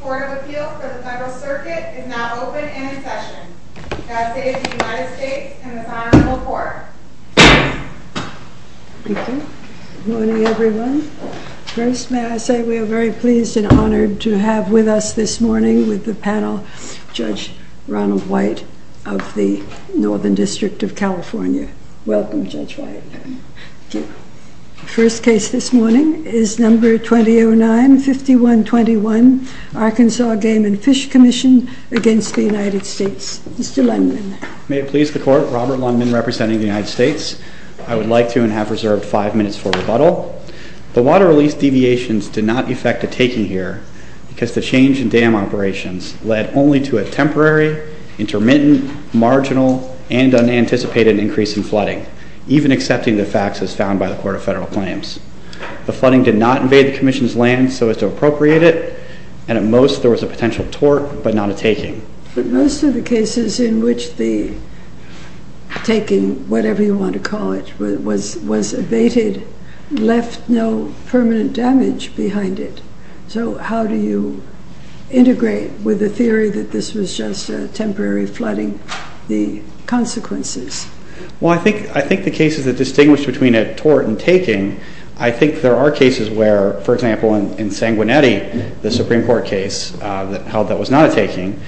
Court of Appeal for the Federal Circuit is now open and in session. I say to the United States and this Honorable Court. Thank you. Good morning, everyone. First, may I say we are very pleased and honored to have with us this morning with the panel, Judge Ronald White of the Northern District of California. Welcome, Judge White. Thank you. First case this morning is number 2009-5121, Arkansas Game and Fish Commission against the United States. Mr. Lundman. May it please the Court, Robert Lundman representing the United States. I would like to and have to begin by saying that this is a case in which the Commission's land was taken, because the change in dam operations led only to a temporary, intermittent, marginal, and unanticipated increase in flooding, even accepting the facts as found by the Court of Federal Claims. The flooding did not invade the Commission's land so as to appropriate it, and at most there cases in which the taking, whatever you want to call it, was evaded, left no permanent damage behind it. So how do you integrate with the theory that this was just a temporary flooding, the consequences? Well, I think the cases that distinguish between a tort and taking, I think there are cases where, for example, in Sanguinetti, the Supreme Court case held that was not a taking,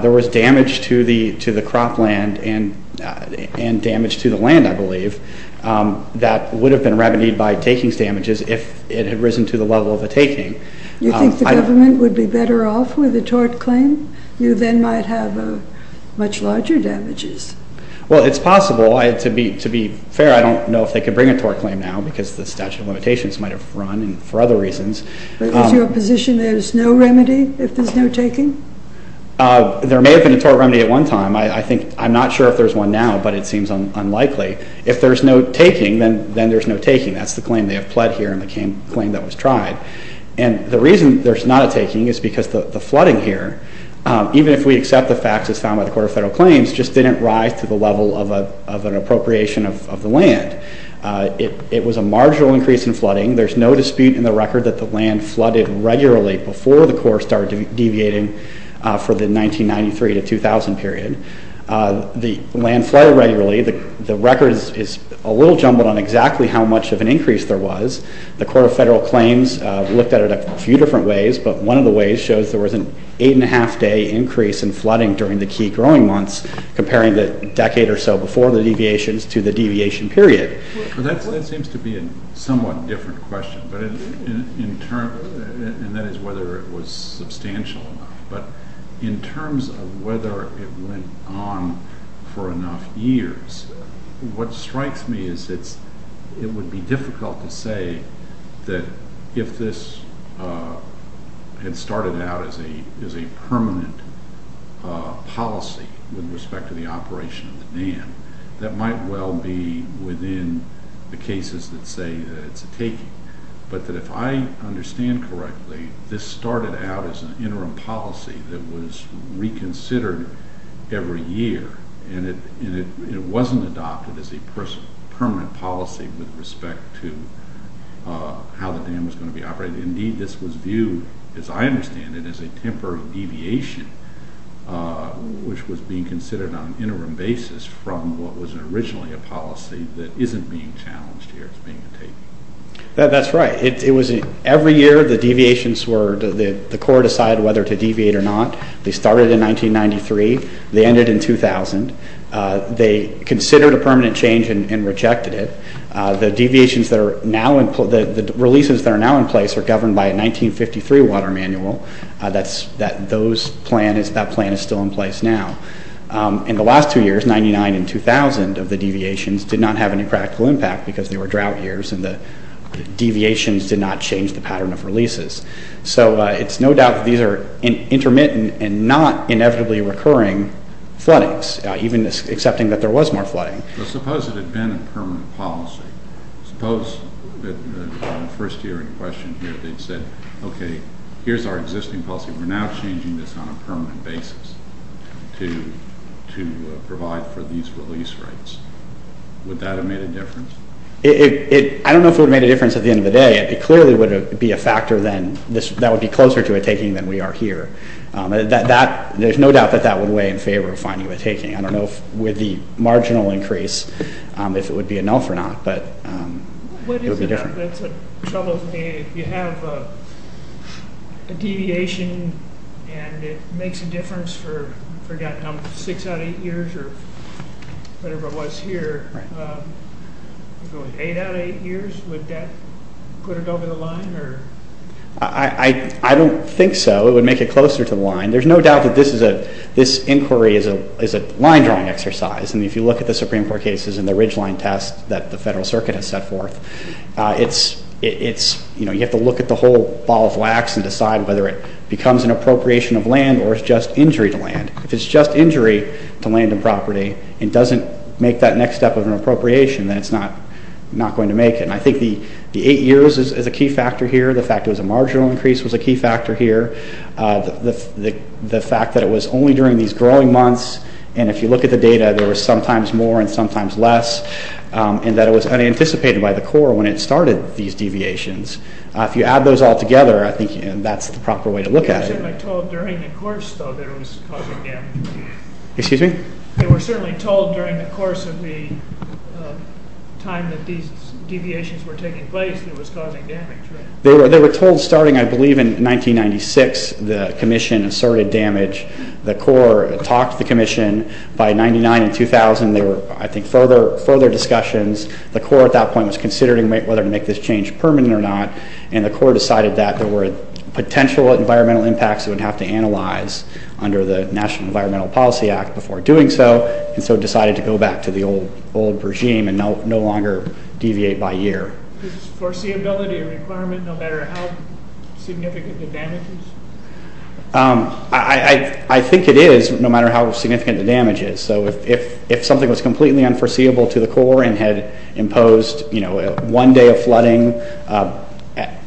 there was damage to the cropland and damage to the land, I believe, that would have been remedied by taking's damages if it had risen to the level of a taking. You think the government would be better off with a tort claim? You then might have much larger damages. Well, it's possible. To be fair, I don't know if they could bring a tort claim now because the statute of limitations might have run, and for other reasons. Is your position there's no remedy if there's no taking? There may have been a tort remedy at one time. I'm not sure if there's one now, but it seems unlikely. If there's no taking, then there's no taking. That's the claim they have pled here in the claim that was tried. And the reason there's not a taking is because the flooding here, even if we accept the facts as found by the Court of Federal Claims, just didn't rise to the level of an appropriation of the land. It was a marginal increase in flooding. There's no dispute in the record that the land flooded regularly before the Corps started deviating for the 1993 to 2000 period. The land flooded regularly. The record is a little jumbled on exactly how much of an increase there was. The Court of Federal Claims looked at it a few different ways, but one of the ways shows there was an eight and a half day increase in flooding during the key growing months, comparing the decade or so before the deviations to the deviation period. That seems to be a somewhat different question, and that is whether it was substantial enough, but in terms of whether it went on for enough years, what strikes me is it would be difficult to say that if this had started out as a permanent policy with respect to the operation of the dam, that might well be within the cases that say that it's a taking. But if I understand correctly, this started out as an interim policy that was reconsidered every year, and it wasn't adopted as a permanent policy with respect to how the dam was going to be operated. Indeed, this was viewed, as I understand it, as a temporary deviation, which was being considered on an interim basis from what was originally a policy that isn't being challenged here as being a taking. That's right. Every year the deviations were, the Corps decided whether to deviate or not. They started in 1993. They ended in 2000. They considered a permanent change and rejected it. The deviations that are now, the releases that are now in place are governed by a 1953 water manual. That plan is still in place now. In the last two years, 99 and 2000 of the deviations did not have any practical impact because they were drought years, and the deviations did not change the pattern of releases. So it's no doubt that these are intermittent and not inevitably recurring floodings, even accepting that there was more flooding. Suppose it had been a permanent policy. Suppose that in the first year in question here they'd said, okay, here's our existing policy. We're now changing this on a permanent basis to provide for these release rates. Would that have made a difference? I don't know if it would have made a difference at the end of the day. It clearly would be a factor then. That would be closer to a taking than we are here. There's no doubt that that would weigh in favor of finding a taking. I don't know with the marginal increase if it would be a null for not, but it would be different. That's a trouble for me. If you have a deviation and it makes a difference for six out of eight years or whatever it was here, eight out of eight years, would that put it over the line? I don't think so. It would make it closer to the line. There's no doubt that this inquiry is a line-drawing exercise. If you look at the Supreme Court cases and the Ridgeline test that the Federal Circuit has set forth, you have to look at the whole ball of wax and decide whether it becomes an appropriation of land or it's just injury to land. If it's just injury to land and property, it doesn't make that next step of an appropriation, then it's not going to make it. I think the eight years is a key factor here. The fact it was a marginal increase was a key factor here. The fact that it was only during these growing months, and if you look at the data, there was sometimes more and sometimes less, and that it was unanticipated by the Corps when it started these deviations. If you add those all together, I think that's the proper way to look at it. They were certainly told during the course that it was causing damage. Excuse me? They were certainly told during the course of the time that these deviations were taking place that it was causing damage. They were told starting, I believe, in 1996, the Commission asserted damage. The Corps talked to the Commission. By 1999 and 2000, there were, I think, further discussions. The Corps at that point was considering whether to make this change permanent or not, and the Corps decided that there were potential environmental impacts it would have to analyze under the National Environmental Policy Act before doing so, and so decided to go back to the old regime and no longer deviate by year. Is foreseeability a requirement no matter how significant the damage is? I think it is, no matter how significant the damage is. So if something was completely unforeseeable to the Corps and had imposed one day of flooding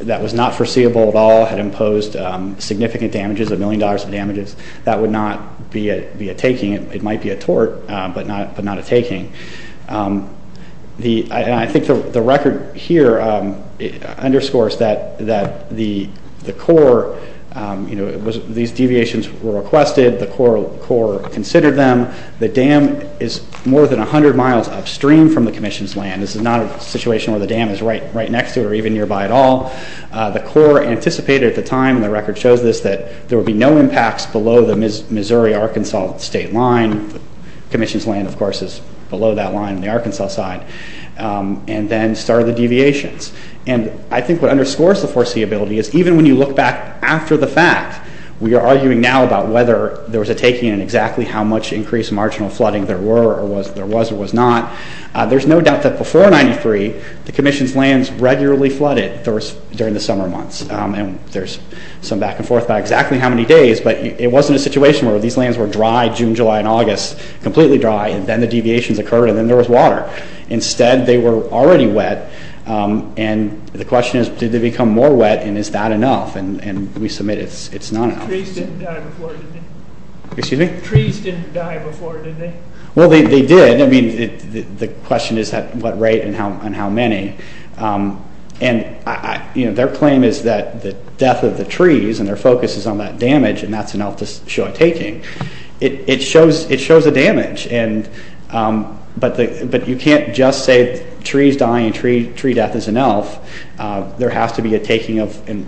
that was not foreseeable at all, had imposed significant damages, a million dollars of damages, that would not be a taking. It might be a tort, but not a taking. I think the record here underscores that the Corps, you know, these deviations were requested. The Corps considered them. The dam is more than 100 miles upstream from the Commission's land. This is not a situation where the dam is right next to it or even nearby at all. The Corps anticipated at the time, and the record shows this, that there would be no impacts below the Missouri-Arkansas state line. The Commission's land, of course, is below that line on the Arkansas side, and then started the deviations. And I think what underscores the foreseeability is even when you look back after the fact, we are arguing now about whether there was a taking and exactly how much increased marginal flooding there was or was not. There's no doubt that before 93, the Commission's lands regularly flooded during the summer months, and there's some back and forth about exactly how many days, but it wasn't a situation where these lands were dry June, July, and August, completely dry, and then the deviations occurred, and then there was water. Instead, they were already wet, and the question is, did they become more wet, and is that enough? And we submit it's not enough. Trees didn't die before, did they? Excuse me? Trees didn't die before, did they? Well, they did. I mean, the question is at what rate and how many. And, you know, their claim is that the death of the trees, and their focus is on that damage, and that's enough to show a taking. It shows a damage, but you can't just say trees die and tree death is enough. There has to be a taking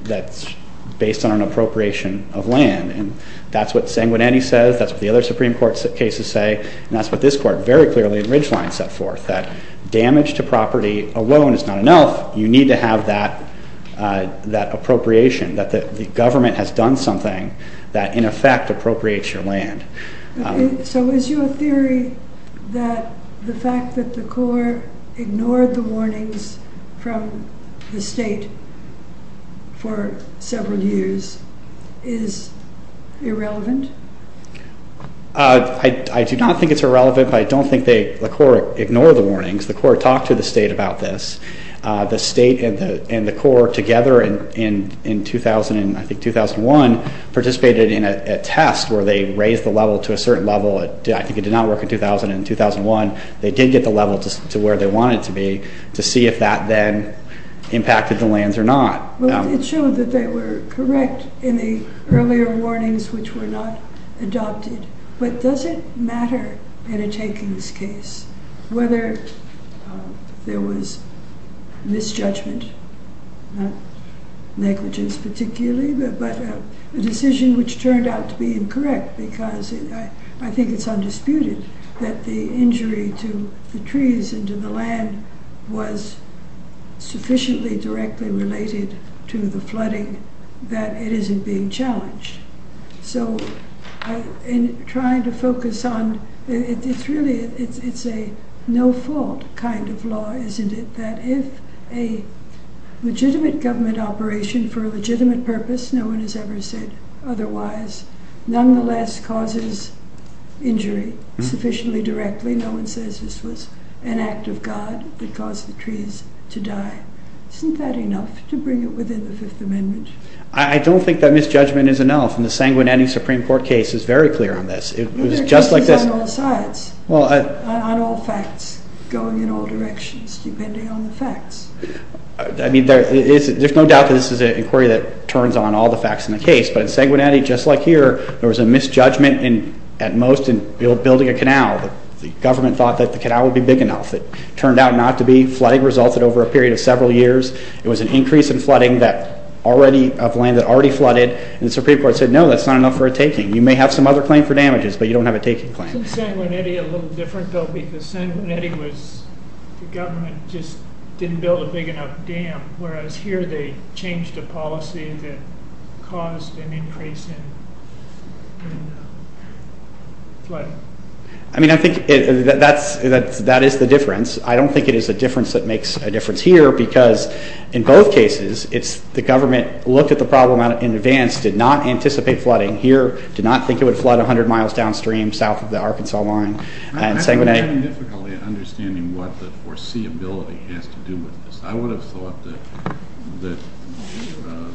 that's based on an appropriation of land, and that's what Sanguinetti says, that's what the other Supreme Court cases say, and that's what this Court very clearly in Ridgeline set forth, that damage to property alone is not enough. You need to have that appropriation, that the government has done something that in effect appropriates your land. So is your theory that the fact that the court ignored the warnings from the state for several years is irrelevant? I do not think it's irrelevant, but I don't think the court ignored the warnings. The court talked to the state about this. The state and the court together in, I think, 2001 participated in a test where they raised the level to a certain level. I think it did not work in 2000 and 2001. They did get the level to where they wanted it to be to see if that then impacted the lands or not. Well, it showed that they were correct in the earlier warnings, which were not adopted, but does it matter in a takings case whether there was misjudgment, negligence particularly, but a decision which turned out to be incorrect because I think it's undisputed that the injury to the trees and to the land was sufficiently directly related to the flooding that it isn't being challenged. So in trying to focus on, it's really a no fault kind of law, isn't it, that if a legitimate government operation for a legitimate purpose, no one has ever said otherwise, nonetheless causes injury sufficiently directly, no one says this was an act of God that caused the trees to die. Isn't that enough to bring it within the Fifth Amendment? I don't think that misjudgment is enough, and the Sanguinetti Supreme Court case is very clear on this. There are cases on all sides, on all facts, going in all directions, depending on the facts. There's no doubt that this is an inquiry that turns on all the facts in the case, but in Sanguinetti, just like here, there was a misjudgment at most in building a canal. The government thought that the canal would be big enough. It turned out not to be. Flooding resulted over a period of several years. It was an increase in flooding of land that already flooded, and the Supreme Court said, no, that's not enough for a taking. You may have some other claim for damages, but you don't have a taking claim. Isn't Sanguinetti a little different, though, because Sanguinetti was the government just didn't build a big enough dam, whereas here they changed a policy that caused an increase in flooding? I mean, I think that is the difference. I don't think it is a difference that makes a difference here because in both cases the government looked at the problem in advance, did not anticipate flooding here, did not think it would flood 100 miles downstream south of the Arkansas line. I'm having difficulty understanding what the foreseeability has to do with this. I would have thought that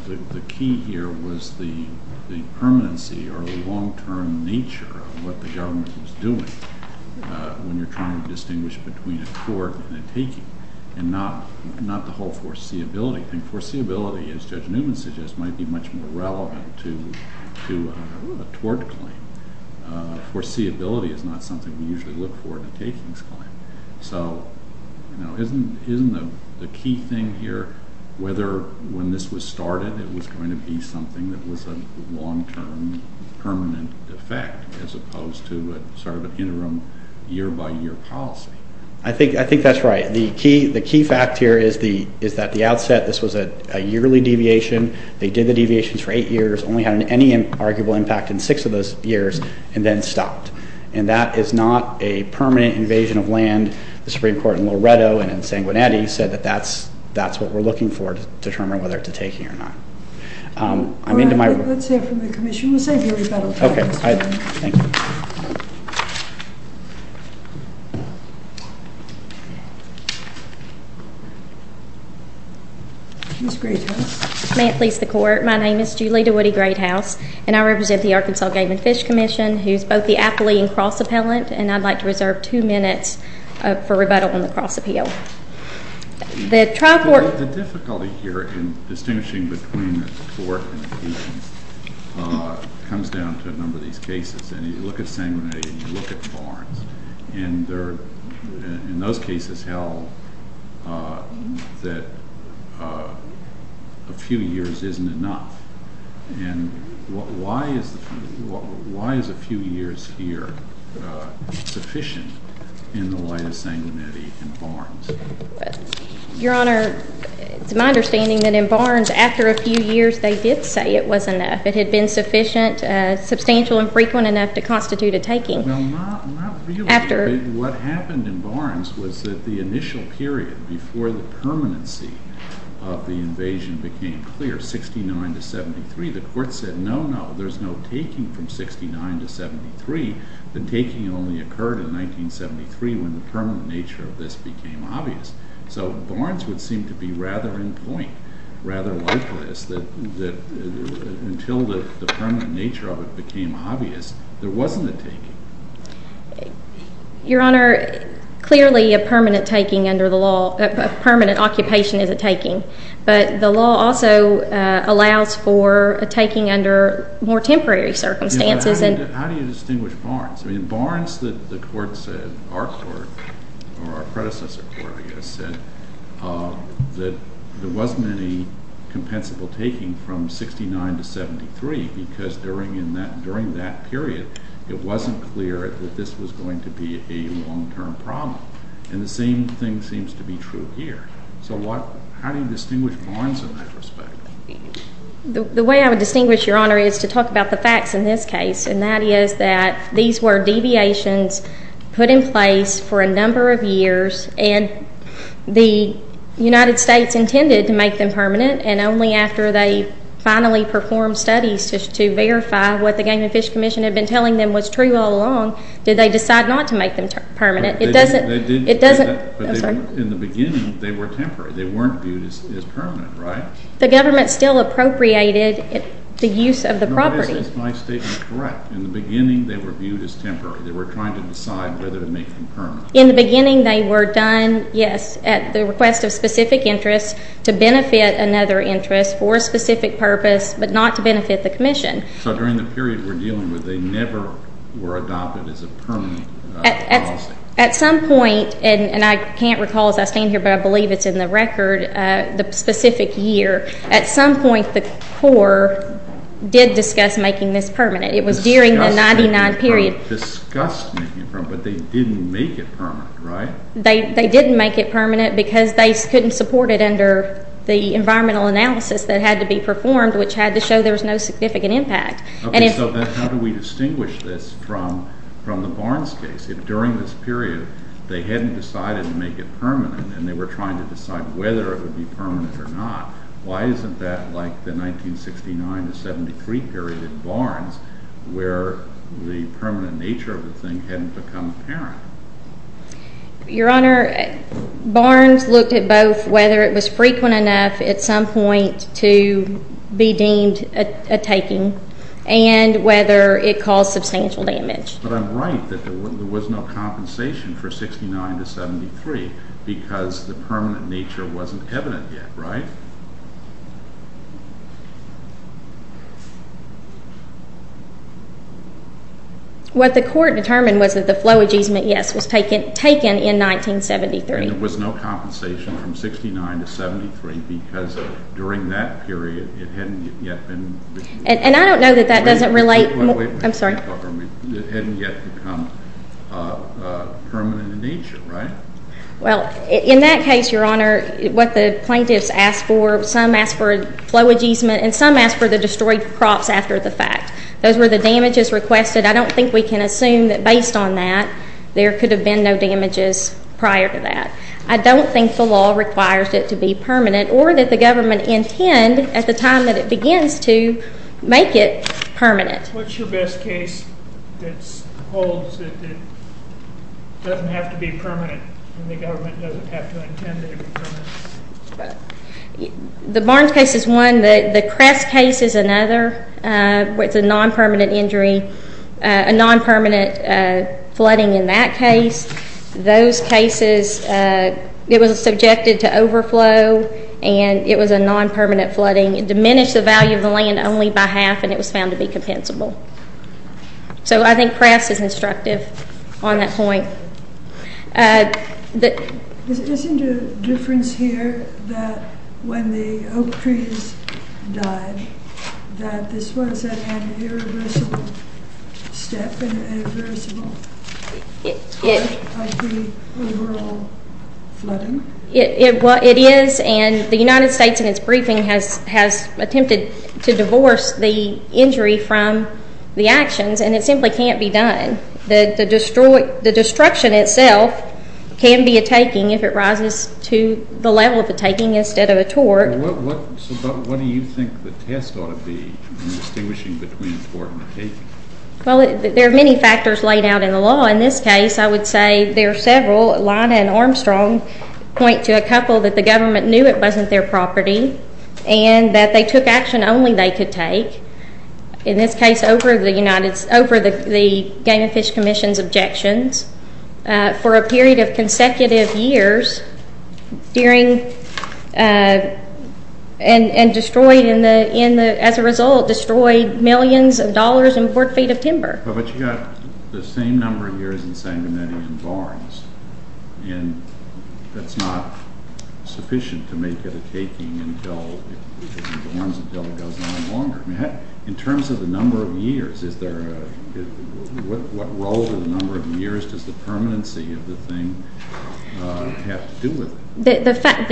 the key here was the permanency or the long-term nature of what the government was doing when you're trying to distinguish between a court and a taking and not the whole foreseeability thing. Foreseeability, as Judge Newman suggests, might be much more relevant to a tort claim. Foreseeability is not something we usually look for in a takings claim. So isn't the key thing here whether when this was started it was going to be something that was a long-term permanent effect as opposed to sort of an interim year-by-year policy? I think that's right. The key fact here is that the outset, this was a yearly deviation. They did the deviations for eight years, only had any arguable impact in six of those years, and then stopped. And that is not a permanent invasion of land. The Supreme Court in Loretto and in Sanguinetti said that that's what we're looking for to determine whether it's a taking or not. All right, let's hear from the Commission. We'll save you a rebuttal. Okay, thank you. Ms. Greathouse. May it please the Court, my name is Julie DeWitty Greathouse, and I represent the Arkansas Game and Fish Commission, who is both the appellee and cross-appellant, and I'd like to reserve two minutes for rebuttal on the cross-appeal. The trial court The difficulty here in distinguishing between a tort and a taking comes down to a number of these cases. And you look at Sanguinetti and you look at Florence, and in those cases held that a few years isn't enough. And why is a few years here sufficient in the light of Sanguinetti and Barnes? Your Honor, it's my understanding that in Barnes, after a few years they did say it was enough. It had been sufficient, substantial and frequent enough to constitute a taking. Well, not really. What happened in Barnes was that the initial period before the permanency of the invasion became clear, 1969 to 1973, the Court said, no, no, there's no taking from 1969 to 1973. The taking only occurred in 1973 when the permanent nature of this became obvious. So Barnes would seem to be rather in point, rather like this, that until the permanent nature of it became obvious, there wasn't a taking. Your Honor, clearly a permanent taking under the law, a permanent occupation is a taking. But the law also allows for a taking under more temporary circumstances. How do you distinguish Barnes? In Barnes, the Court said, our Court, or our predecessor Court, I guess, said that there wasn't any compensable taking from 1969 to 1973 because during that period it wasn't clear that this was going to be a long-term problem. And the same thing seems to be true here. So how do you distinguish Barnes in that respect? The way I would distinguish, Your Honor, is to talk about the facts in this case, and that is that these were deviations put in place for a number of years and the United States intended to make them permanent and only after they finally performed studies to verify what the Game and Fish Commission had been telling them was true all along did they decide not to make them permanent. It doesn't – They did do that. I'm sorry. But in the beginning they were temporary. They weren't viewed as permanent, right? The government still appropriated the use of the property. No, this is my statement correct. In the beginning they were viewed as temporary. They were trying to decide whether to make them permanent. In the beginning they were done, yes, at the request of specific interest to benefit another interest for a specific purpose but not to benefit the commission. So during the period we're dealing with they never were adopted as a permanent policy? At some point, and I can't recall as I stand here, but I believe it's in the record, the specific year, at some point the Corps did discuss making this permanent. It was during the 1999 period. Discussed making it permanent, but they didn't make it permanent, right? They didn't make it permanent because they couldn't support it under the environmental analysis that had to be performed, which had to show there was no significant impact. Okay, so how do we distinguish this from the Barnes case? If during this period they hadn't decided to make it permanent and they were trying to decide whether it would be permanent or not, why isn't that like the 1969 to 1973 period in Barnes where the permanent nature of the thing hadn't become apparent? Your Honor, Barnes looked at both whether it was frequent enough at some point to be deemed a taking and whether it caused substantial damage. But I'm right that there was no compensation for 1969 to 1973 because the permanent nature wasn't evident yet, right? What the Court determined was that the flow adjustment, yes, was taken in 1973. And there was no compensation from 1969 to 1973 because during that period it hadn't yet been… And I don't know that that doesn't relate… Wait a minute, wait a minute. I'm sorry. It hadn't yet become permanent in nature, right? Well, in that case, Your Honor, what the plaintiffs asked for some asked for flow adjustment and some asked for the destroyed crops after the fact. Those were the damages requested. I don't think we can assume that based on that there could have been no damages prior to that. I don't think the law requires it to be permanent or that the government intend at the time that it begins to make it permanent. What's your best case that holds that it doesn't have to be permanent and the government doesn't have to intend it to be permanent? The Barnes case is one. The Kress case is another. It's a non-permanent injury, a non-permanent flooding in that case. Those cases, it was subjected to overflow and it was a non-permanent flooding. It diminished the value of the land only by half and it was found to be compensable. So I think Kress is instructive on that point. Isn't there a difference here that when the Oak trees died that this was an irreversible step, an irreversible step like the overall flooding? It is, and the United States in its briefing has attempted to divorce the injury from the actions, and it simply can't be done. The destruction itself can be a taking if it rises to the level of a taking instead of a tort. So what do you think the test ought to be in distinguishing between tort and a taking? Well, there are many factors laid out in the law. In this case, I would say there are several. Lana and Armstrong point to a couple that the government knew it wasn't their property and that they took action only they could take. In this case, over the Game and Fish Commission's objections, for a period of consecutive years, and as a result destroyed millions of dollars and four feet of timber. But you've got the same number of years and the same amount of barns, and that's not sufficient to make it a taking until it goes on longer. In terms of the number of years, what role in the number of years does the permanency of the thing have to do with it? The fact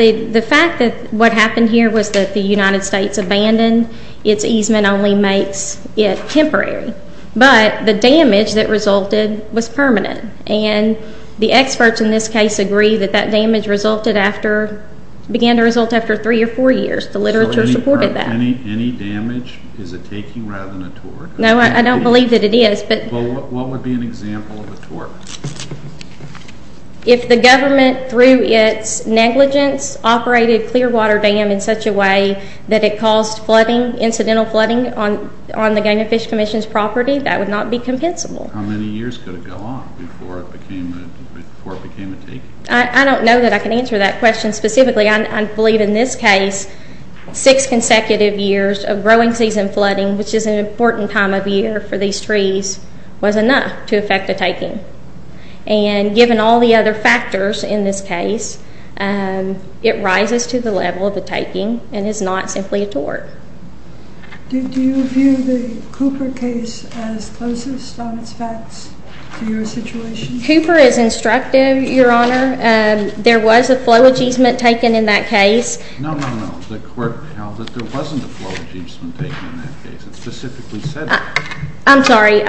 that what happened here was that the United States abandoned its easement only makes it temporary, but the damage that resulted was permanent, and the experts in this case agree that that damage began to result after three or four years. The literature supported that. So any damage is a taking rather than a tort? No, I don't believe that it is. What would be an example of a tort? If the government, through its negligence, operated Clearwater Dam in such a way that it caused incidental flooding on the Game and Fish Commission's property, that would not be compensable. How many years could it go on before it became a taking? I don't know that I can answer that question specifically. I believe in this case six consecutive years of growing season flooding, which is an important time of year for these trees, was enough to affect a taking. And given all the other factors in this case, it rises to the level of a taking and is not simply a tort. Did you view the Cooper case as closest on its facts to your situation? Cooper is instructive, Your Honor. There was a flow easement taken in that case. No, no, no. The court held that there wasn't a flow easement taken in that case. It specifically said that. I'm sorry.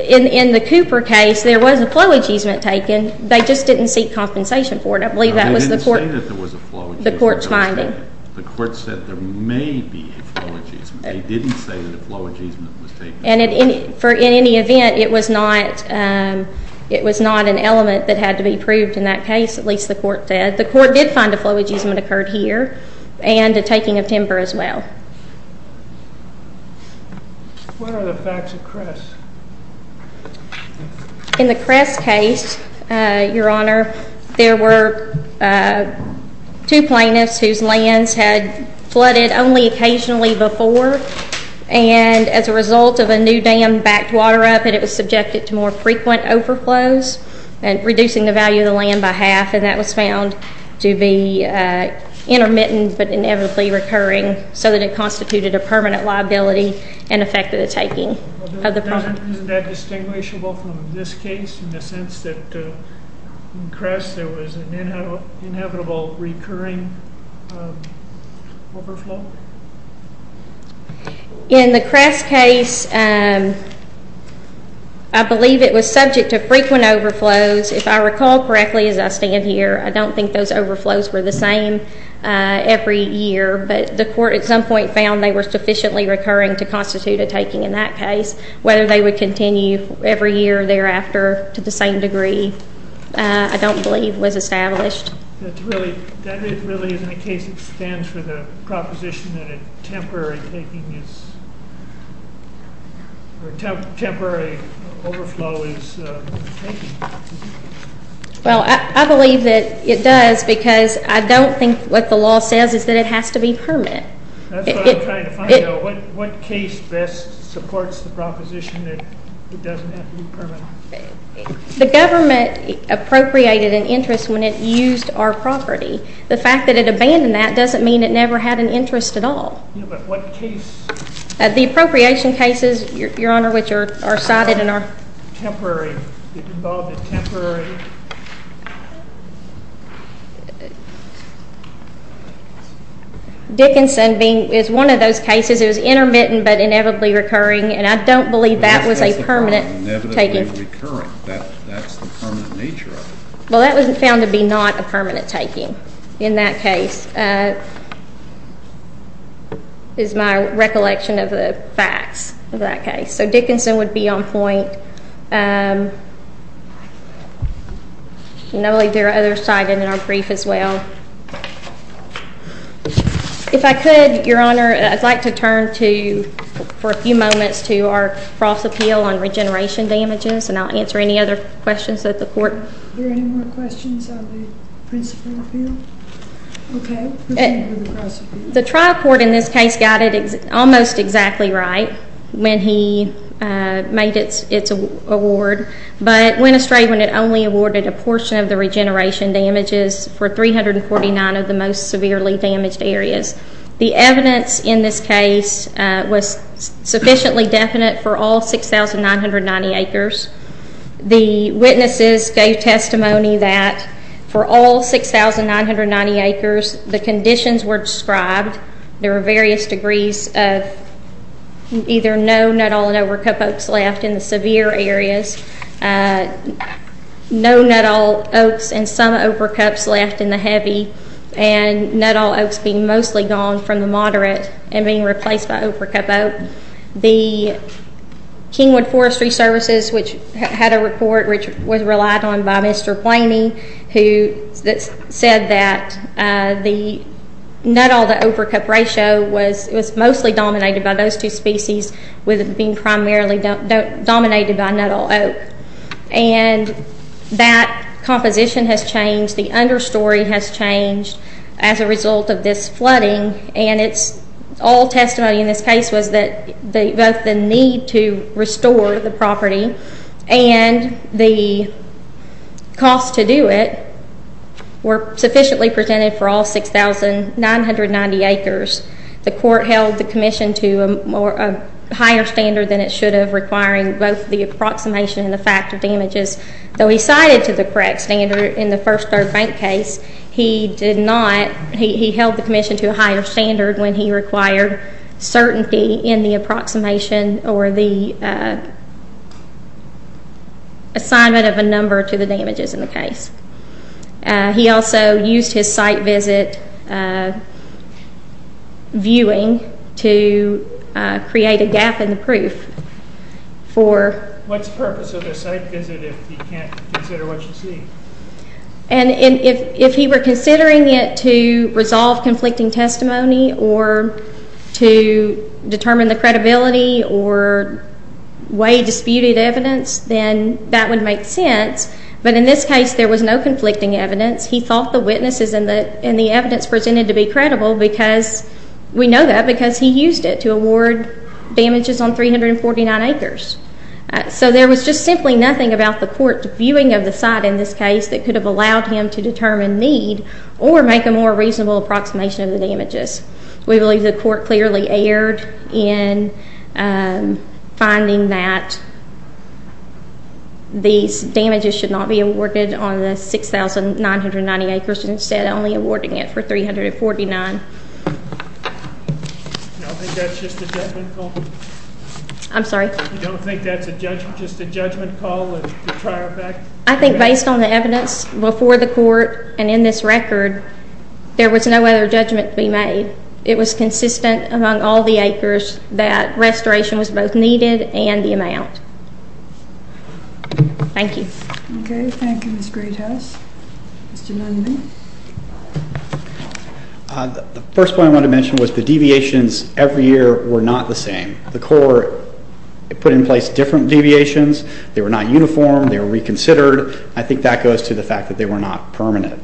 In the Cooper case, there was a flow easement taken. They just didn't seek compensation for it. I believe that was the court's finding. They didn't say that there was a flow easement taken. The court's finding. The court said there may be a flow easement. They didn't say that a flow easement was taken. And in any event, it was not an element that had to be proved in that case, at least the court said. The court did find a flow easement occurred here and a taking of timber as well. What are the facts of Cress? In the Cress case, Your Honor, there were two plaintiffs whose lands had flooded only occasionally before, and as a result of a new dam backed water up, it was subjected to more frequent overflows, reducing the value of the land by half, and that was found to be intermittent but inevitably recurring so that it constituted a permanent liability and affected the taking of the property. Isn't that distinguishable from this case in the sense that in Cress there was an inevitable recurring overflow? In the Cress case, I believe it was subject to frequent overflows. If I recall correctly as I stand here, I don't think those overflows were the same every year, but the court at some point found they were sufficiently recurring to constitute a taking in that case. Whether they would continue every year thereafter to the same degree I don't believe was established. That really isn't a case that stands for the proposition that a temporary taking is, Well, I believe that it does because I don't think what the law says is that it has to be permanent. That's what I'm trying to find out. What case best supports the proposition that it doesn't have to be permanent? The government appropriated an interest when it used our property. The fact that it abandoned that doesn't mean it never had an interest at all. Yeah, but what case? The appropriation cases, Your Honor, which are cited in our... Temporary, it involved a temporary... Dickinson is one of those cases. It was intermittent but inevitably recurring, and I don't believe that was a permanent taking. Inevitably recurring, that's the permanent nature of it. Well, that was found to be not a permanent taking in that case is my recollection of the facts of that case. So Dickinson would be on point. And I believe there are other cited in our brief as well. If I could, Your Honor, I'd like to turn to, for a few moments, to our cross appeal on regeneration damages, and I'll answer any other questions that the court... Are there any more questions on the principle appeal? Okay, let's move to the cross appeal. The trial court in this case got it almost exactly right when he made its award, but went astray when it only awarded a portion of the regeneration damages for 349 of the most severely damaged areas. The evidence in this case was sufficiently definite for all 6,990 acres. The witnesses gave testimony that for all 6,990 acres, the conditions were described. There were various degrees of either no nut all and over cup oaks left in the severe areas, no nut all oaks and some over cups left in the heavy, and nut all oaks being mostly gone from the moderate and being replaced by over cup oak. The Kingwood Forestry Services, which had a report which was relied on by Mr. Blaney, who said that the nut all to over cup ratio was mostly dominated by those two species, with it being primarily dominated by nut all oak. And that composition has changed, the under story has changed as a result of this flooding, and all testimony in this case was that both the need to restore the property and the cost to do it were sufficiently presented for all 6,990 acres. The court held the commission to a higher standard than it should have, requiring both the approximation and the fact of damages. Though he cited to the correct standard in the first third bank case, he held the commission to a higher standard when he required certainty in the approximation or the assignment of a number to the damages in the case. He also used his site visit viewing to create a gap in the proof. What's the purpose of a site visit if you can't consider what you see? And if he were considering it to resolve conflicting testimony or to determine the credibility or weigh disputed evidence, then that would make sense, but in this case there was no conflicting evidence. He thought the witnesses and the evidence presented to be credible, because we know that because he used it to award damages on 349 acres. So there was just simply nothing about the court's viewing of the site in this case that could have allowed him to determine need or make a more reasonable approximation of the damages. We believe the court clearly erred in finding that these damages should not be awarded on the 6,990 acres and instead only awarding it for 349. You don't think that's just a judgment call? I'm sorry? You don't think that's just a judgment call? I think based on the evidence before the court and in this record, there was no other judgment to be made. It was consistent among all the acres that restoration was both needed and the amount. Thank you. Okay, thank you Ms. Greathouse. Mr. Langevin? The first point I want to mention was the deviations every year were not the same. The court put in place different deviations. They were not uniform. They were reconsidered. I think that goes to the fact that they were not permanent.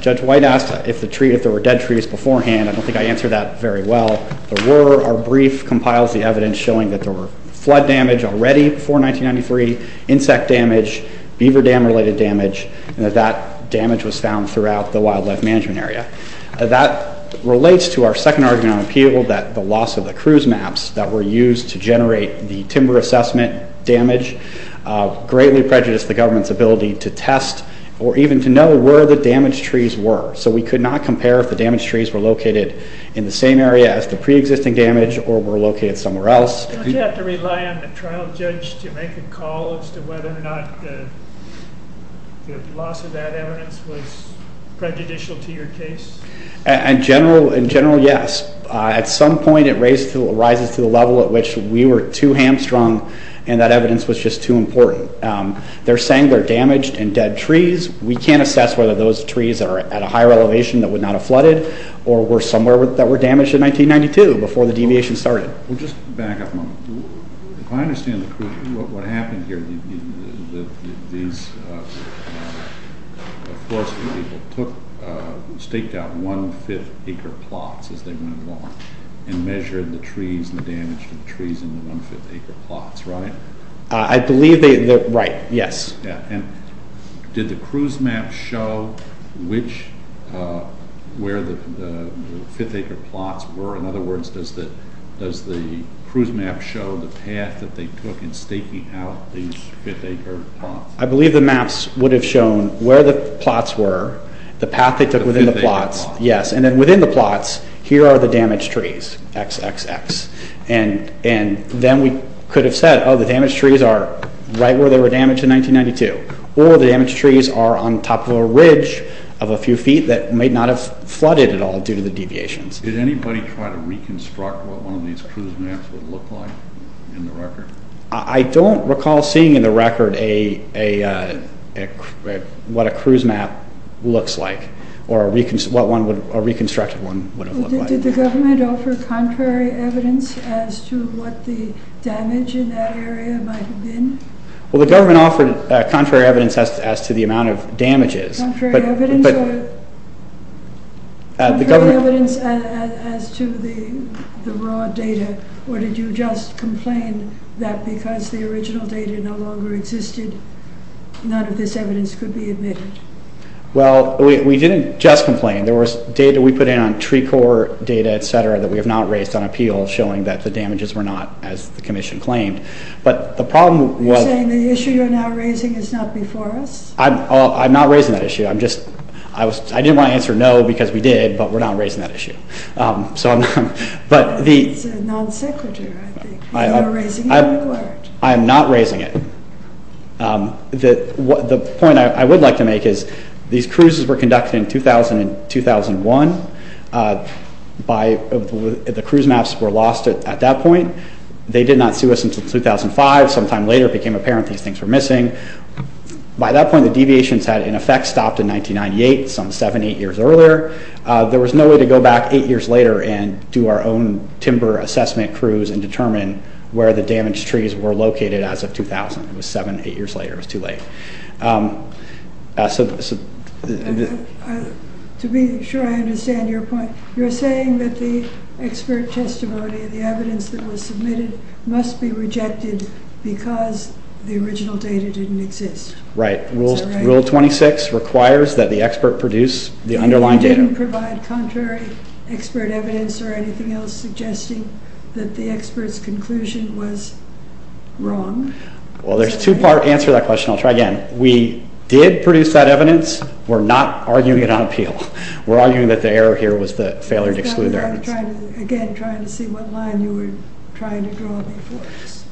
Judge White asked if there were dead trees beforehand. I don't think I answered that very well. There were. Our brief compiles the evidence showing that there were flood damage already before 1993, insect damage, beaver dam related damage, and that that damage was found throughout the wildlife management area. That relates to our second argument on appeal that the loss of the cruise maps that were used to generate the timber assessment damage greatly prejudiced the government's ability to test or even to know where the damaged trees were. So we could not compare if the damaged trees were located in the same area as the preexisting damage or were located somewhere else. Don't you have to rely on the trial judge to make a call as to whether or not the loss of that evidence was prejudicial to your case? In general, yes. At some point it rises to the level at which we were too hamstrung and that evidence was just too important. They're saying they're damaged and dead trees. We can't assess whether those trees are at a higher elevation that would not have flooded or were somewhere that were damaged in 1992 before the deviation started. We'll just back up a moment. If I understand what happened here, these forestry people staked out one-fifth acre plots as they went along and measured the trees and the damage to the trees in the one-fifth acre plots, right? I believe they, right, yes. Did the cruise map show where the fifth acre plots were? In other words, does the cruise map show the path that they took in staking out these fifth acre plots? I believe the maps would have shown where the plots were, the path they took within the plots, yes. And then within the plots, here are the damaged trees, XXX. And then we could have said, oh, the damaged trees are right where they were damaged in 1992 or the damaged trees are on top of a ridge of a few feet that may not have flooded at all due to the deviations. Did anybody try to reconstruct what one of these cruise maps would look like in the record? I don't recall seeing in the record what a cruise map looks like or what a reconstructed one would have looked like. Did the government offer contrary evidence as to what the damage in that area might have been? Well, the government offered contrary evidence as to the amount of damages. Contrary evidence as to the raw data, or did you just complain that because the original data no longer existed, none of this evidence could be admitted? Well, we didn't just complain. There was data we put in on tree core data, et cetera, that we have not raised on appeal showing that the damages were not, as the commission claimed. But the problem was... You're saying the issue you're now raising is not before us? I'm not raising that issue. I didn't want to answer no because we did, but we're not raising that issue. So I'm not... It's a non sequitur, I think. You're raising a new word. I am not raising it. The point I would like to make is these cruises were conducted in 2000 and 2001. The cruise maps were lost at that point. They did not see us until 2005. Sometime later it became apparent these things were missing. By that point, the deviations had in effect stopped in 1998, some seven, eight years earlier. There was no way to go back eight years later and do our own timber assessment cruise and determine where the damaged trees were located as of 2000. It was seven, eight years later. It was too late. To be sure I understand your point, you're saying that the expert testimony, the evidence that was submitted must be rejected because the original data didn't exist. Right. Rule 26 requires that the expert produce the underlying data. You didn't provide contrary expert evidence or anything else suggesting that the expert's conclusion was wrong. Well, there's two parts. Answer that question. I'll try again. We did produce that evidence. We're not arguing it on appeal. We're arguing that the error here was the failure to exclude the evidence. Again, trying to see what line you were trying to draw before us.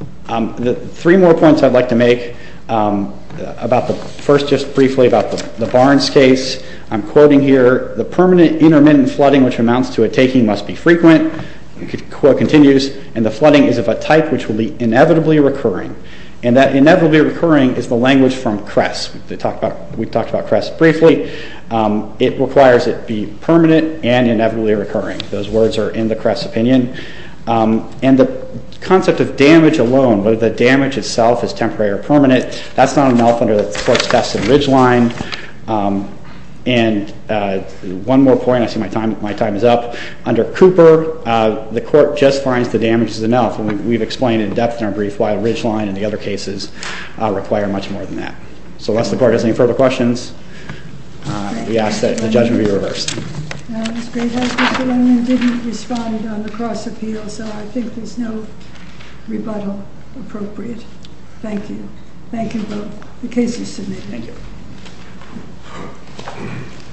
The three more points I'd like to make about the first just briefly about the Barnes case. I'm quoting here, the permanent intermittent flooding, which amounts to a taking, must be frequent. Quote continues, and the flooding is of a type which will be inevitably recurring. And that inevitably recurring is the language from Cress. We talked about Cress briefly. It requires it be permanent and inevitably recurring. Those words are in the Cress opinion. And the concept of damage alone, whether the damage itself is temporary or permanent, that's not enough under the court's test of Ridgeline. And one more point. I see my time is up. Under Cooper, the court just finds the damage is enough. And we've explained in depth in our brief why Ridgeline and the other cases require much more than that. So unless the court has any further questions, we ask that the judgment be reversed. That was great. I didn't respond on the cross appeal, so I think there's no rebuttal appropriate. Thank you. Thank you both. The case is submitted. Thank you.